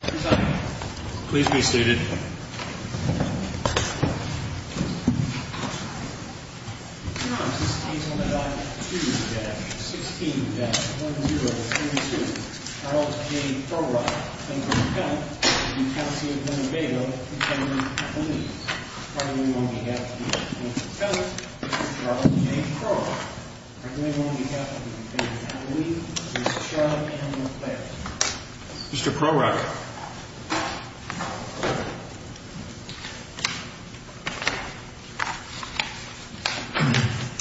Please be seated. Your Honor, this case on the document 2-16-1032, Charles J. Prorok v. County of Winnebago v. County of Catalina is presented on behalf of the Attorney General, Charles J. Prorok, and on behalf of the County of Catalina, Mr. Charlotte Campbell Clare. Mr. Prorok.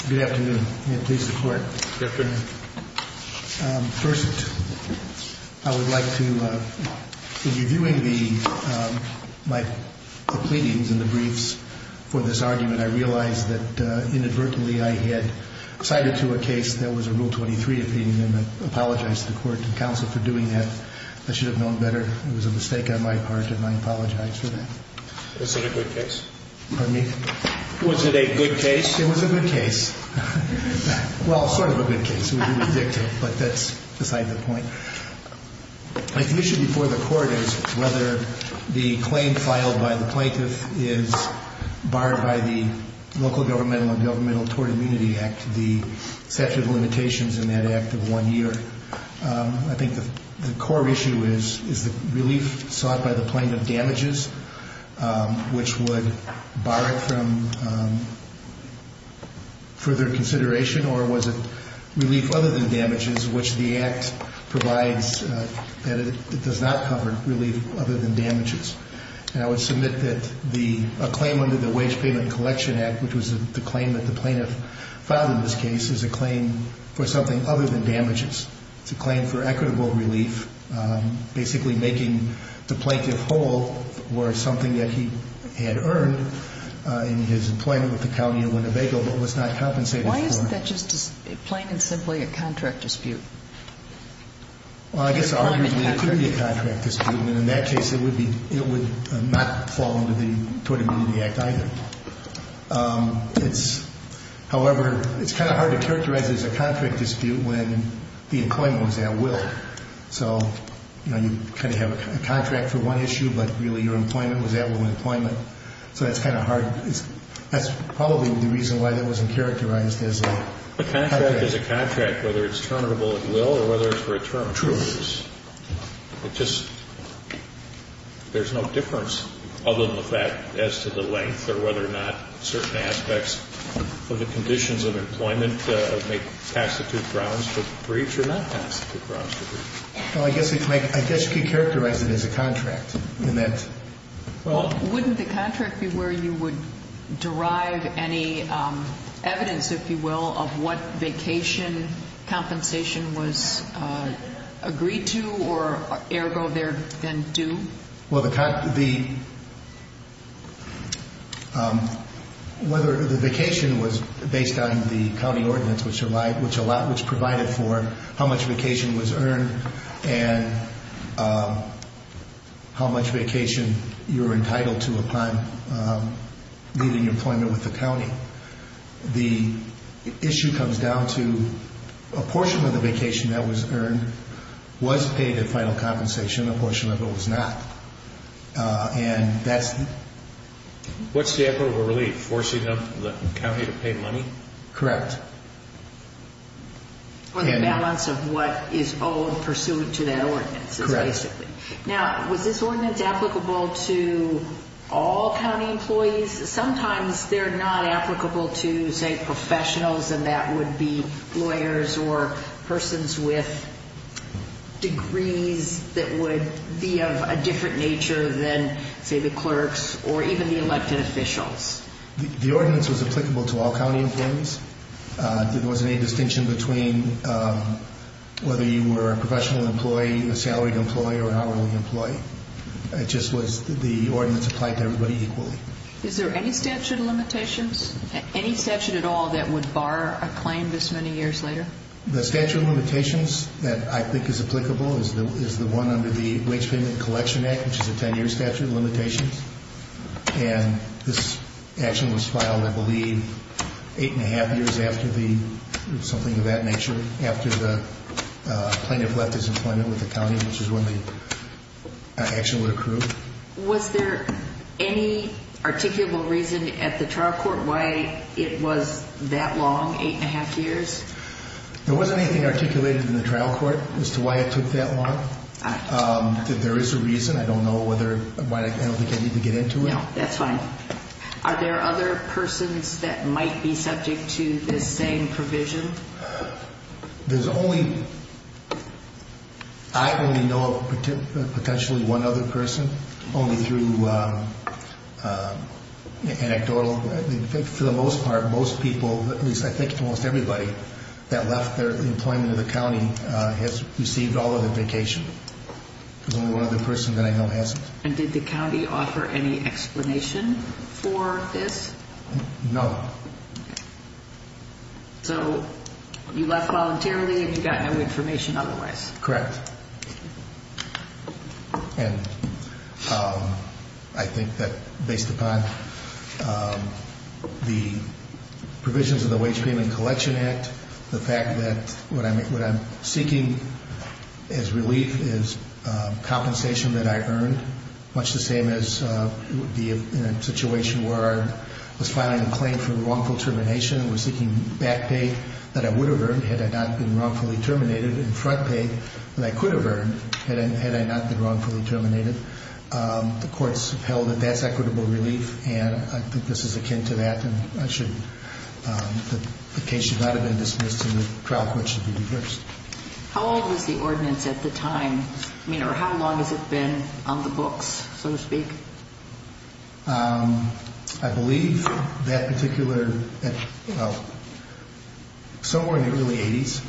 Good afternoon, and please support. Yes, sir. First, I would like to, in reviewing my pleadings and the briefs for this argument, I realize that inadvertently I had cited to a case that was a Rule 23 opinion, and I apologize to the Court and Counsel for doing that. I should have known better. It was a mistake on my part, and I apologize for that. Was it a good case? Pardon me? Was it a good case? It was a good case. Well, sort of a good case. It would be redicted, but that's beside the point. The issue before the Court is whether the claim filed by the plaintiff is barred by the Local Governmental and Governmental Tort Immunity Act, the statute of limitations in that act of one year. I think the core issue is the relief sought by the plaintiff damages, which would bar it from further consideration, or was it relief other than damages, which the act provides that it does not cover relief other than damages. And I would submit that a claim under the Wage Payment Collection Act, which was the claim that the plaintiff filed in this case, is a claim for something other than damages. It's a claim for equitable relief, basically making the plaintiff whole worth something that he had earned in his employment with the county of Winnebago but was not compensated for. Why isn't that just plain and simply a contract dispute? Well, I guess arguably it could be a contract dispute, and in that case it would not fall under the Tort Immunity Act either. However, it's kind of hard to characterize it as a contract dispute when the employment was at will. So you kind of have a contract for one issue, but really your employment was at will employment. So that's kind of hard. That's probably the reason why that wasn't characterized as a contract. A contract is a contract, whether it's terminable at will or whether it's for a term. True. It just, there's no difference other than the fact as to the length or whether or not certain aspects of the conditions of employment may constitute grounds to breach or not constitute grounds to breach. Well, I guess you could characterize it as a contract in that. Well, wouldn't the contract be where you would derive any evidence, if you will, of what vacation compensation was agreed to or, ergo, there then due? Well, the vacation was based on the county ordinance, which provided for how much vacation was earned and how much vacation you were entitled to upon leaving employment with the county. The issue comes down to a portion of the vacation that was earned was paid at final compensation, a portion of it was not. And that's the... What's the effort of relief, forcing the county to pay money? Correct. On the balance of what is owed pursuant to that ordinance, basically. Correct. Now, was this ordinance applicable to all county employees? Sometimes they're not applicable to, say, professionals, and that would be lawyers or persons with degrees that would be of a different nature than, say, the clerks or even the elected officials. The ordinance was applicable to all county employees. There wasn't any distinction between whether you were a professional employee, a salaried employee, or an hourly employee. It just was the ordinance applied to everybody equally. Is there any statute of limitations, any statute at all, that would bar a claim this many years later? The statute of limitations that I think is applicable is the one under the Wage Payment Collection Act, which is a 10-year statute of limitations. And this action was filed, I believe, eight and a half years after the something of that nature, after the plaintiff left his employment with the county, which is when the action would accrue. Was there any articulable reason at the trial court why it was that long, eight and a half years? There wasn't anything articulated in the trial court as to why it took that long. There is a reason. I don't know why I don't think I need to get into it. No, that's fine. Are there other persons that might be subject to this same provision? There's only, I only know of potentially one other person, only through anecdotal. For the most part, most people, at least I think almost everybody that left their employment in the county has received all of the vacation. There's only one other person that I know hasn't. And did the county offer any explanation for this? No. So you left voluntarily and you got no information otherwise? Correct. And I think that based upon the provisions of the Wage Payment Collection Act, the fact that what I'm seeking as relief is compensation that I earned, much the same as it would be in a situation where I was filing a claim for wrongful termination and was seeking back pay that I would have earned had I not been wrongfully terminated and front pay that I could have earned had I not been wrongfully terminated. The courts held that that's equitable relief, and I think this is akin to that. The case should not have been dismissed and the trial court should be reversed. How old was the ordinance at the time, or how long has it been on the books, so to speak? I believe that particular, somewhere in the early 80s.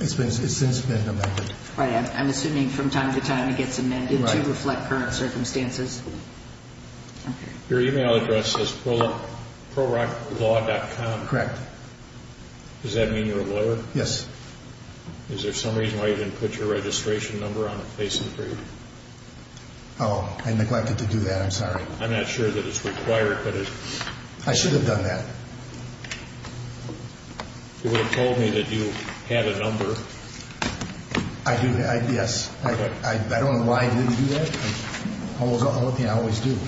It's since been amended. Right, I'm assuming from time to time it gets amended to reflect current circumstances. Your email address is prorocklaw.com. Correct. Does that mean you're a lawyer? Yes. Is there some reason why you didn't put your registration number on the facing for you? Oh, I neglected to do that. I'm sorry. I'm not sure that it's required. I should have done that. You would have told me that you had a number. I do, yes. I don't know why I didn't do that. I always do.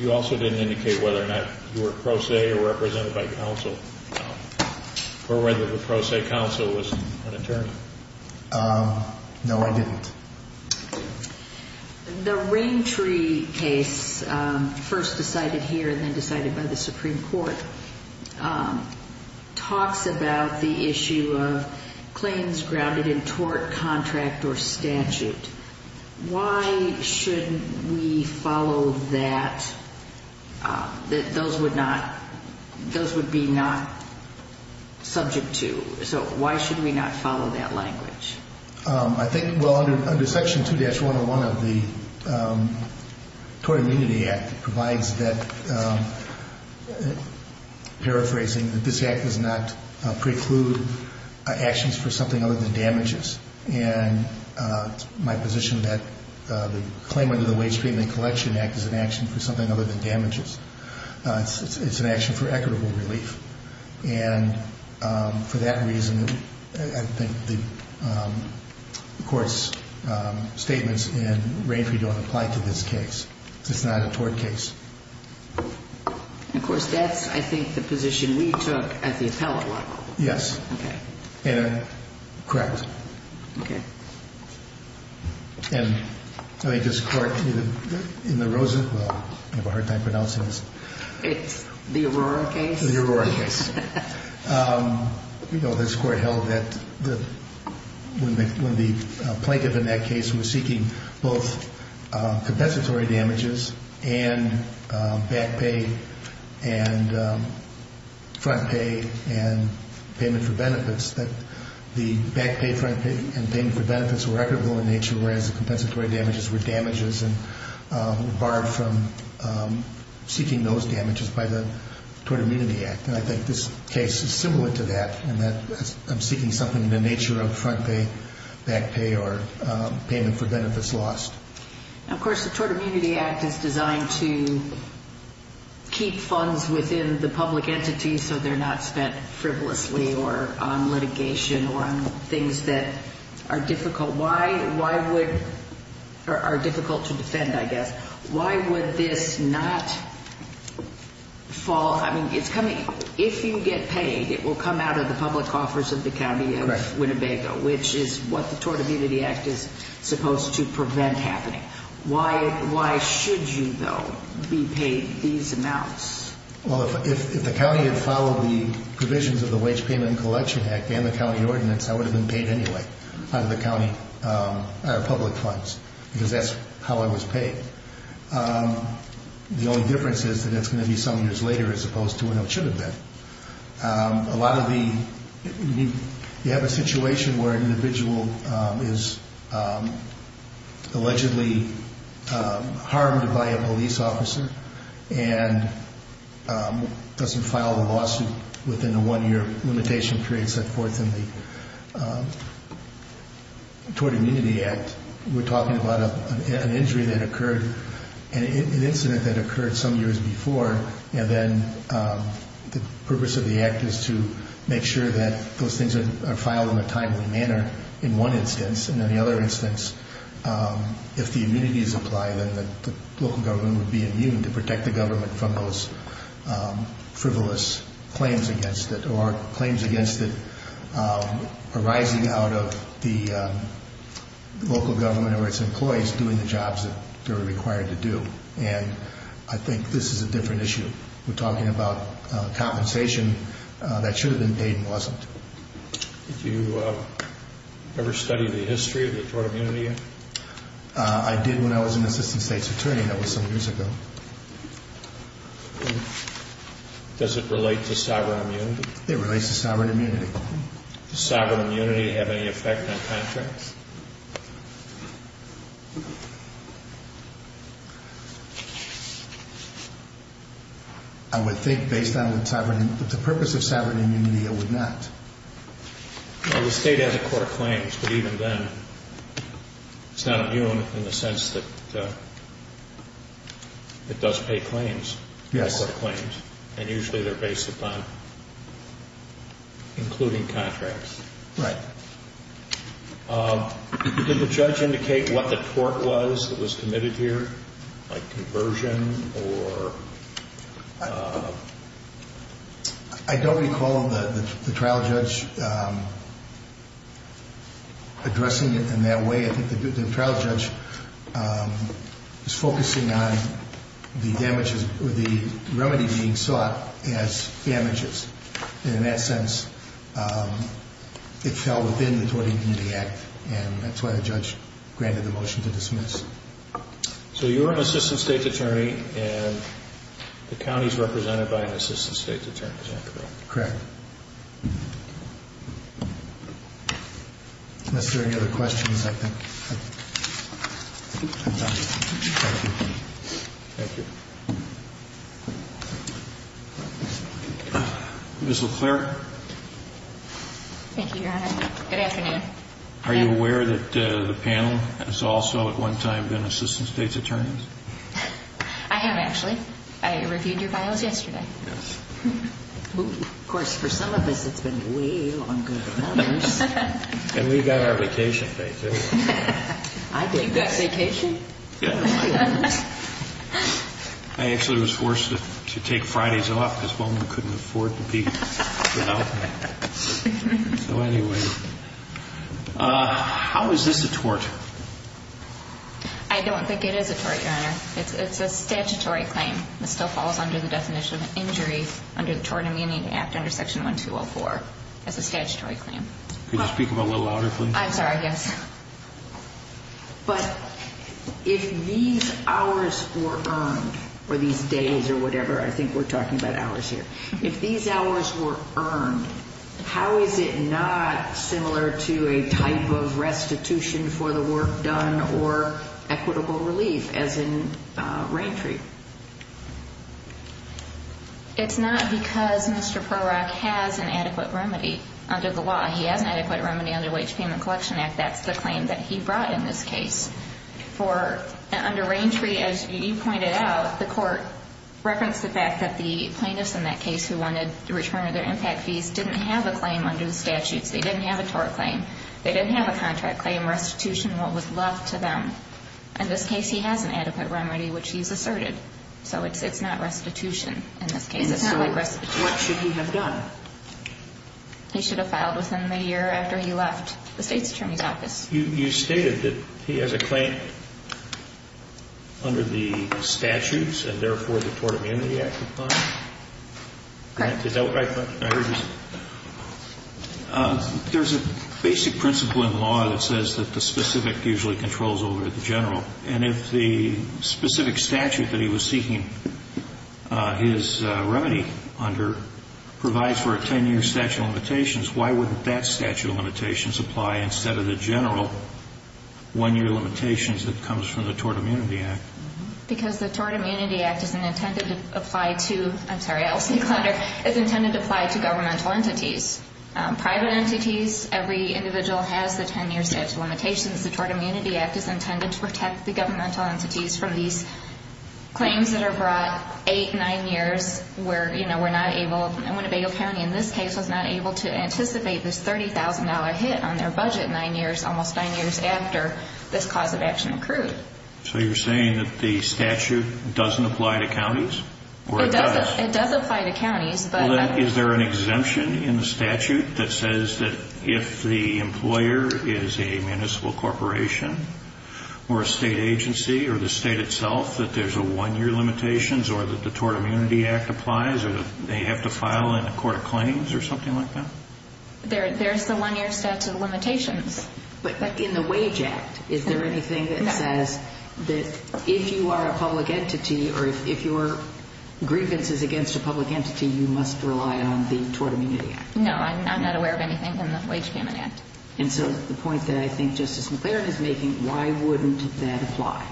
You also didn't indicate whether or not you were a pro se or represented by counsel, or whether the pro se counsel was an attorney. No, I didn't. The Rain Tree case, first decided here and then decided by the Supreme Court, talks about the issue of claims grounded in tort contract or statute. Why shouldn't we follow that? Those would be not subject to. So why should we not follow that language? I think, well, under Section 2-101 of the Tort Immunity Act, it provides that, paraphrasing, that this act does not preclude actions for something other than damages. And it's my position that the claim under the Wage Treatment and Collection Act is an action for something other than damages. It's an action for equitable relief. And for that reason, I think the Court's statements in Rain Tree don't apply to this case. It's not a tort case. And, of course, that's, I think, the position we took at the appellate level. Yes. Okay. And correct. Okay. And I think this Court in the Rosen, well, I have a hard time pronouncing this. It's the Aurora case? The Aurora case. You know, this Court held that when the plaintiff in that case was seeking both compensatory damages and back pay and front pay and payment for benefits, that the back pay, front pay, and payment for benefits were equitable in nature, whereas the compensatory damages were damages and were barred from seeking those damages by the Tort Immunity Act. And I think this case is similar to that, in that I'm seeking something in the nature of front pay, back pay, or payment for benefits lost. Now, of course, the Tort Immunity Act is designed to keep funds within the public entity so they're not spent frivolously or on litigation or on things that are difficult. Why would or are difficult to defend, I guess. Why would this not fall? Well, I mean, if you get paid, it will come out of the public offers of the County of Winnebago, which is what the Tort Immunity Act is supposed to prevent happening. Why should you, though, be paid these amounts? Well, if the county had followed the provisions of the Wage Payment and Collection Act and the county ordinance, I would have been paid anyway out of the county public funds because that's how I was paid. The only difference is that it's going to be some years later as opposed to when I should have been. A lot of the, you have a situation where an individual is allegedly harmed by a police officer and doesn't file a lawsuit within a one-year limitation period set forth in the Tort Immunity Act. We're talking about an injury that occurred, an incident that occurred some years before, and then the purpose of the act is to make sure that those things are filed in a timely manner in one instance. And in the other instance, if the immunities apply, then the local government would be immune to protect the government from those frivolous claims against it or claims against it arising out of the local government or its employees doing the jobs that they're required to do. And I think this is a different issue. We're talking about compensation that should have been paid and wasn't. Did you ever study the history of the Tort Immunity Act? I did when I was an assistant state's attorney. That was some years ago. Does it relate to sovereign immunity? It relates to sovereign immunity. Does sovereign immunity have any effect on contracts? I would think based on the purpose of sovereign immunity, it would not. The state has a court claims, but even then it's not immune in the sense that it does pay claims. Yes. And usually they're based upon including contracts. Right. Did the judge indicate what the tort was that was committed here, like conversion or? I don't recall the trial judge addressing it in that way. I think the trial judge was focusing on the remedy being sought as damages. And in that sense, it fell within the Tort Immunity Act, and that's why the judge granted the motion to dismiss. So you're an assistant state's attorney, and the county is represented by an assistant state's attorney, is that correct? Correct. Unless there are any other questions, I think. Thank you. Ms. LeClaire. Thank you, Your Honor. Good afternoon. Are you aware that the panel has also at one time been assistant state's attorneys? I have, actually. I reviewed your bios yesterday. Yes. Of course, for some of us, it's been way longer than others. And we've got our vacation paid, too. I believe that. You've got vacation? Yes. I actually was forced to take Fridays off because one of them couldn't afford to be without me. So anyway, how is this a tort? I don't think it is a tort, Your Honor. It's a statutory claim. It still falls under the definition of injury under the Tort Immunity Act under Section 1204. It's a statutory claim. Could you speak a little louder, please? I'm sorry, yes. But if these hours were earned, or these days or whatever, I think we're talking about hours here. If these hours were earned, how is it not similar to a type of restitution for the work done or equitable relief, as in Raintree? It's not because Mr. Prorok has an adequate remedy under the law. He has an adequate remedy under the Wage Payment Collection Act. That's the claim that he brought in this case. Under Raintree, as you pointed out, the court referenced the fact that the plaintiffs in that case who wanted the return of their impact fees didn't have a claim under the statutes. They didn't have a tort claim. They didn't have a contract claim. Restitution was what was left to them. In this case, he has an adequate remedy, which he's asserted. So it's not restitution in this case. What should he have done? He should have filed within the year after he left the State's Attorney's Office. You stated that he has a claim under the statutes and, therefore, the Tort Amenity Act applies? Correct. Is that what I heard you say? There's a basic principle in law that says that the specific usually controls over the general. And if the specific statute that he was seeking his remedy under provides for a 10-year statute of limitations, why wouldn't that statute of limitations apply instead of the general one-year limitations that comes from the Tort Immunity Act? Because the Tort Immunity Act is intended to apply to governmental entities. Private entities, every individual has the 10-year statute of limitations. The Tort Immunity Act is intended to protect the governmental entities from these claims that are brought 8, 9 years, where we're not able in Winnebago County in this case was not able to anticipate this $30,000 hit on their budget 9 years, almost 9 years after this cause of action occurred. So you're saying that the statute doesn't apply to counties? It does apply to counties. Well, then, is there an exemption in the statute that says that if the employer is a municipal corporation or a state agency or the state itself that there's a one-year limitations or that the Tort Immunity Act applies or they have to file in a court of claims or something like that? There's the one-year statute of limitations. But in the Wage Act, is there anything that says that if you are a public entity or if your grievance is against a public entity, you must rely on the Tort Immunity Act? No, I'm not aware of anything in the Wage Amendment Act. And so the point that I think Justice McClaren is making, why wouldn't that apply?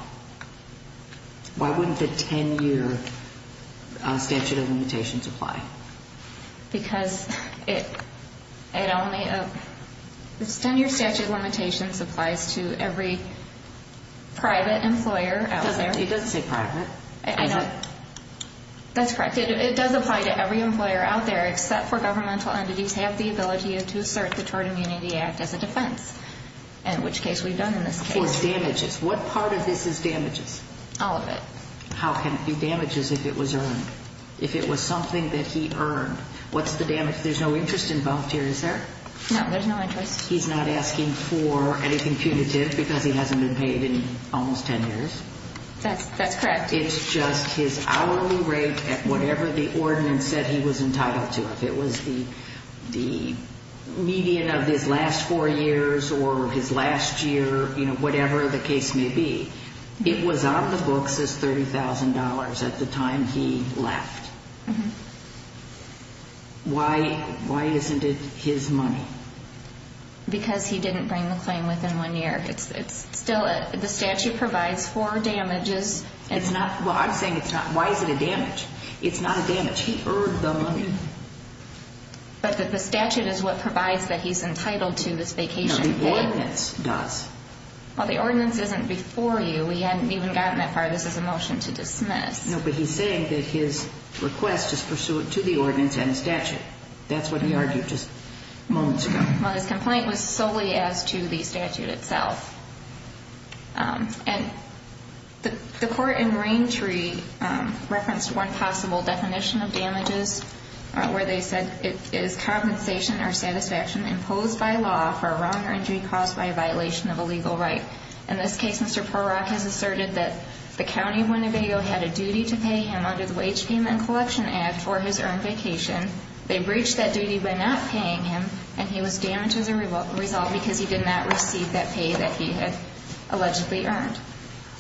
Why wouldn't the 10-year statute of limitations apply? Because it only – the 10-year statute of limitations applies to every private employer out there. It doesn't say private. That's correct. It does apply to every employer out there except for governmental entities have the ability to assert the Tort Immunity Act as a defense, in which case we've done in this case. For damages. What part of this is damages? All of it. How can it be damages if it was earned? If it was something that he earned, what's the damage? There's no interest involved here, is there? No, there's no interest. He's not asking for anything punitive because he hasn't been paid in almost 10 years? That's correct. It's just his hourly rate at whatever the ordinance said he was entitled to. If it was the median of his last four years or his last year, whatever the case may be, it was on the books as $30,000 at the time he left. Why isn't it his money? Because he didn't bring the claim within one year. The statute provides for damages. It's not. Well, I'm saying it's not. Why is it a damage? It's not a damage. He earned the money. But the statute is what provides that he's entitled to this vacation. No, the ordinance does. Well, the ordinance isn't before you. We hadn't even gotten that far. This is a motion to dismiss. No, but he's saying that his request is pursuant to the ordinance and statute. That's what he argued just moments ago. Well, his complaint was solely as to the statute itself. And the court in Raintree referenced one possible definition of damages where they said, it is compensation or satisfaction imposed by law for a wrong or injury caused by a violation of a legal right. In this case, Mr. Porak has asserted that the county of Winnebago had a duty to pay him under the Wage Payment and Collection Act for his earned vacation. They breached that duty by not paying him, and he was damaged as a result because he did not receive that pay that he had allegedly earned.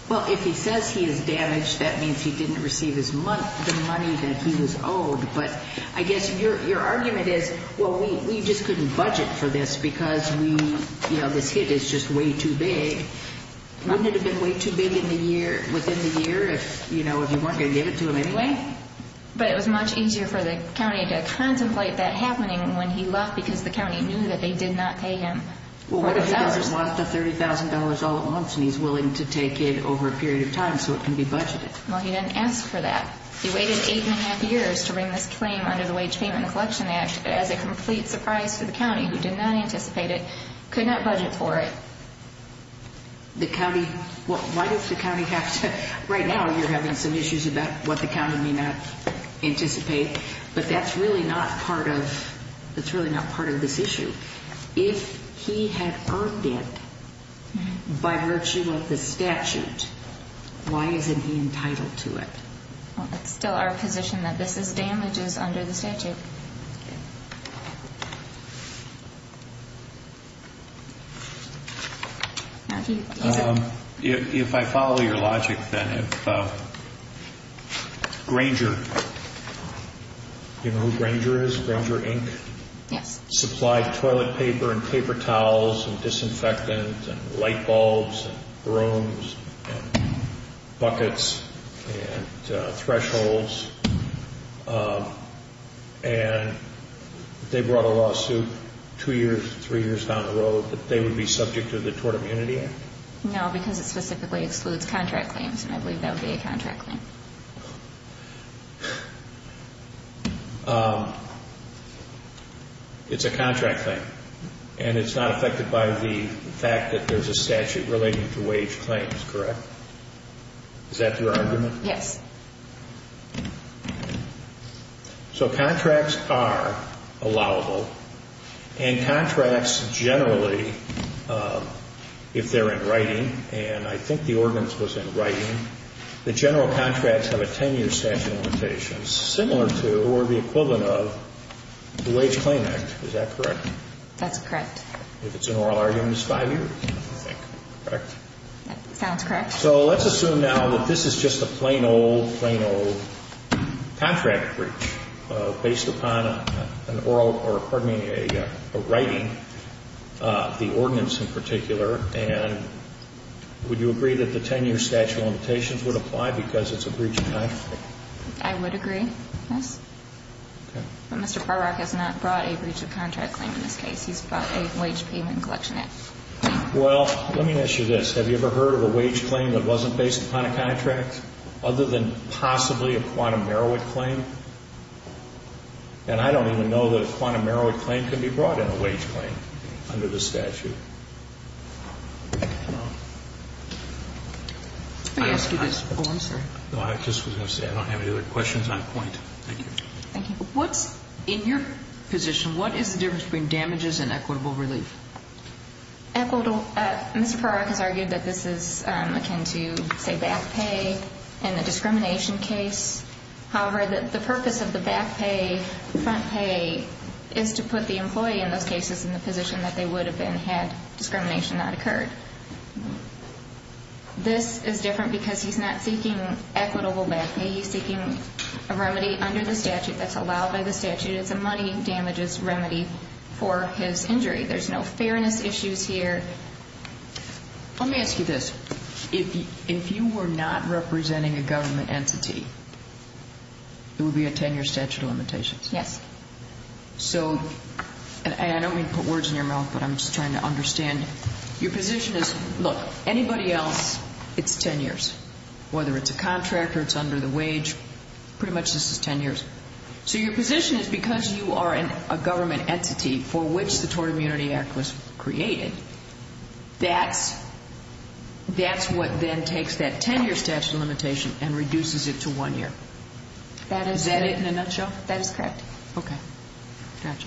Well, if he says he is damaged, that means he didn't receive the money that he was owed. But I guess your argument is, well, we just couldn't budget for this because this hit is just way too big. Wouldn't it have been way too big within the year if you weren't going to give it to him anyway? But it was much easier for the county to contemplate that happening when he left because the county knew that they did not pay him. Well, what if he just lost the $30,000 all at once and he's willing to take it over a period of time so it can be budgeted? Well, he didn't ask for that. He waited eight and a half years to bring this claim under the Wage Payment and Collection Act as a complete surprise to the county, who did not anticipate it, could not budget for it. The county, well, why does the county have to, right now you're having some issues about what the county may not anticipate, but that's really not part of, that's really not part of this issue. If he had earned it by virtue of the statute, why isn't he entitled to it? Well, it's still our position that this is damages under the statute. If I follow your logic then, if Granger, do you know who Granger is, Granger, Inc.? Yes. Supplied toilet paper and paper towels and disinfectant and light bulbs and brooms and buckets and thresholds. And they brought a lawsuit two years, three years down the road that they would be subject to the Tort Immunity Act? No, because it specifically excludes contract claims and I believe that would be a contract claim. It's a contract claim and it's not affected by the fact that there's a statute relating to wage claims, correct? Is that your argument? Yes. So contracts are allowable and contracts generally, if they're in writing, and I think the ordinance was in writing, the general contracts have a 10-year statute limitation, similar to or the equivalent of the Wage Claim Act, is that correct? That's correct. If it's an oral argument, it's five years, I think, correct? That sounds correct. So let's assume now that this is just a plain old, plain old contract breach based upon an oral or, pardon me, a writing, the ordinance in particular, and would you agree that the 10-year statute limitations would apply because it's a breach of contract? I would agree, yes. Okay. But Mr. Parrock has not brought a breach of contract claim in this case. He's brought a wage payment collection act. Well, let me ask you this. Have you ever heard of a wage claim that wasn't based upon a contract other than possibly a quantum merowick claim? And I don't even know that a quantum merowick claim can be brought in a wage claim under the statute. Let me ask you this. Oh, I'm sorry. No, I just was going to say I don't have any other questions on point. Thank you. Thank you. In your position, what is the difference between damages and equitable relief? Mr. Parrock has argued that this is akin to, say, back pay in the discrimination case. However, the purpose of the back pay, front pay, is to put the employee in those cases in the position that they would have been had discrimination not occurred. This is different because he's not seeking equitable back pay. He's seeking a remedy under the statute that's allowed by the statute. It's a money damages remedy for his injury. There's no fairness issues here. Let me ask you this. If you were not representing a government entity, it would be a 10-year statute of limitations. Yes. So, and I don't mean to put words in your mouth, but I'm just trying to understand. Your position is, look, anybody else, it's 10 years. Whether it's a contractor, it's under the wage, pretty much this is 10 years. So your position is because you are a government entity for which the Tort Immunity Act was created, that's what then takes that 10-year statute of limitation and reduces it to one year. Is that it in a nutshell? That is correct. Okay. Gotcha.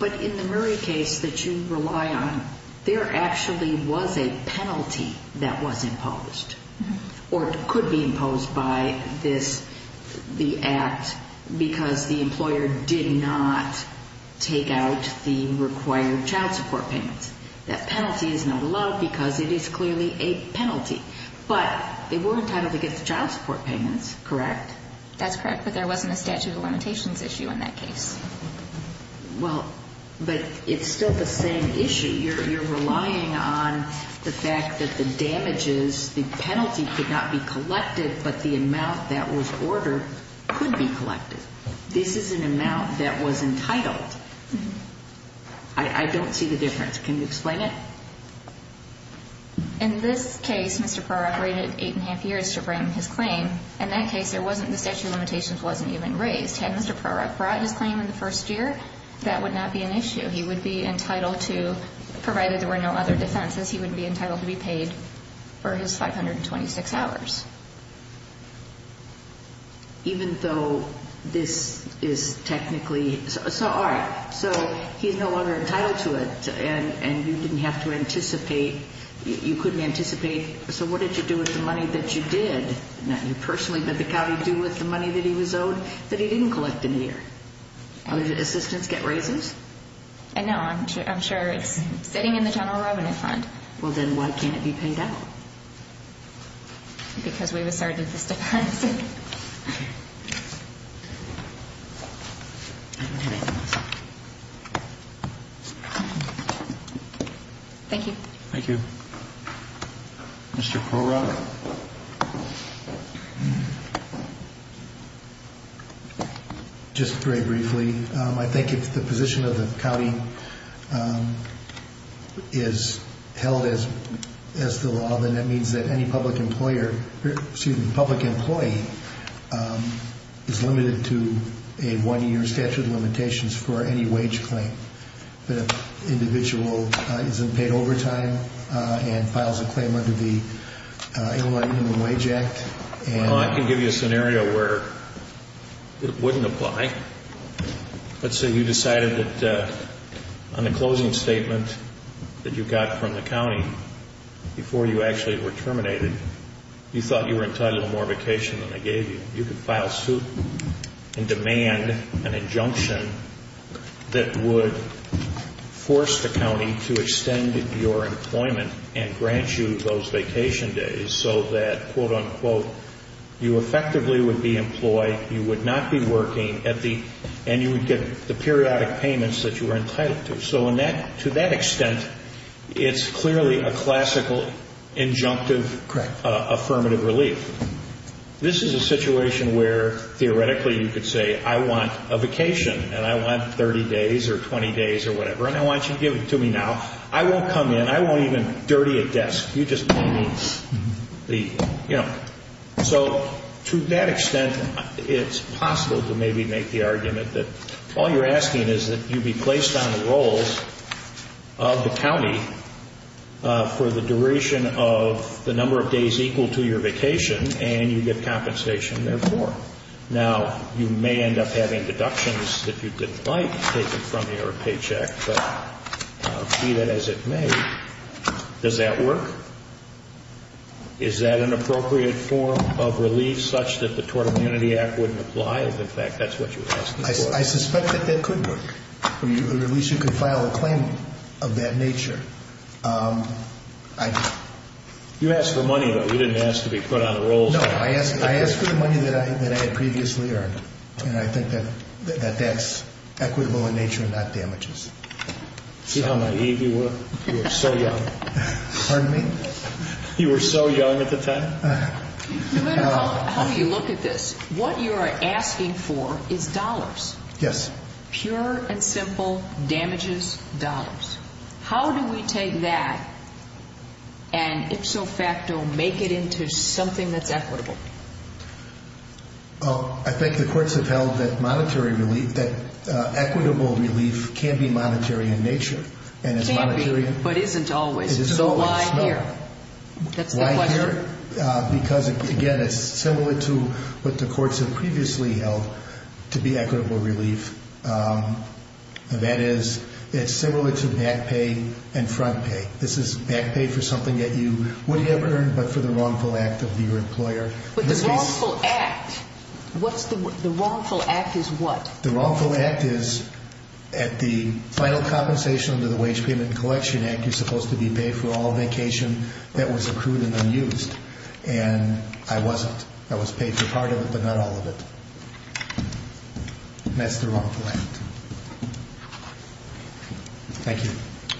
But in the Murray case that you rely on, there actually was a penalty that was imposed or could be imposed by this, the act, because the employer did not take out the required child support payments. That penalty is not allowed because it is clearly a penalty. But they were entitled to get the child support payments, correct? That's correct, but there wasn't a statute of limitations issue in that case. Well, but it's still the same issue. You're relying on the fact that the damages, the penalty could not be collected, but the amount that was ordered could be collected. This is an amount that was entitled. I don't see the difference. Can you explain it? In this case, Mr. Prorok rated eight and a half years to bring his claim. In that case, there wasn't the statute of limitations wasn't even raised. Had Mr. Prorok brought his claim in the first year, that would not be an issue. He would be entitled to, provided there were no other defenses, he would be entitled to be paid for his 526 hours. Even though this is technically so all right. So he's no longer entitled to it, and you didn't have to anticipate, you couldn't anticipate, so what did you do with the money that you did, not you personally, but the county, do with the money that he was owed that he didn't collect in a year? Other assistants get raises? No, I'm sure it's sitting in the general revenue fund. Well, then why can't it be paid out? Because we've asserted this defense. Thank you. Thank you. Mr. Prorok? Just very briefly, I think if the position of the county is held as the law, then that means that any public employer, excuse me, public employee, is limited to a one-year statute of limitations for any wage claim. But if an individual isn't paid overtime and files a claim under the Illinois Human Wage Act. Well, I can give you a scenario where it wouldn't apply. Let's say you decided that on a closing statement that you got from the county before you actually were terminated, you thought you were entitled to more vacation than they gave you. You could file suit and demand an injunction that would force the county to extend your employment and grant you those vacation days so that, quote-unquote, you effectively would be employed, you would not be working, and you would get the periodic payments that you were entitled to. So to that extent, it's clearly a classical injunctive affirmative relief. This is a situation where theoretically you could say, I want a vacation and I want 30 days or 20 days or whatever, and I want you to give it to me now. I won't come in. I won't even dirty a desk. You just pay me the, you know. So to that extent, it's possible to maybe make the argument that all you're asking is that you be placed on the rolls of the county for the duration of the number of days equal to your vacation and you get compensation therefore. Now, you may end up having deductions that you didn't like taken from you or a paycheck, but see that as it may, does that work? Is that an appropriate form of relief such that the Tort Immunity Act wouldn't apply? If, in fact, that's what you're asking for. I suspect that that could work, or at least you could file a claim of that nature. You asked for money, though. You didn't ask to be put on the rolls. No, I asked for the money that I had previously earned, and I think that that's equitable in nature and not damages. See how naive you were? You were so young. Pardon me? You were so young at the time. How do you look at this? What you are asking for is dollars. Yes. Pure and simple damages, dollars. How do we take that and ipso facto make it into something that's equitable? I think the courts have held that monetary relief, that equitable relief can be monetary in nature. It can be, but isn't always. It isn't always. Why here? That's the question. Why here? Because, again, it's similar to what the courts have previously held to be equitable relief. That is, it's similar to back pay and front pay. This is back pay for something that you wouldn't have earned but for the wrongful act of your employer. But the wrongful act, the wrongful act is what? The wrongful act is at the final compensation under the Wage Payment Collection Act, you're supposed to be paid for all vacation that was accrued and unused. And I wasn't. I was paid for part of it but not all of it. That's the wrongful act. Thank you.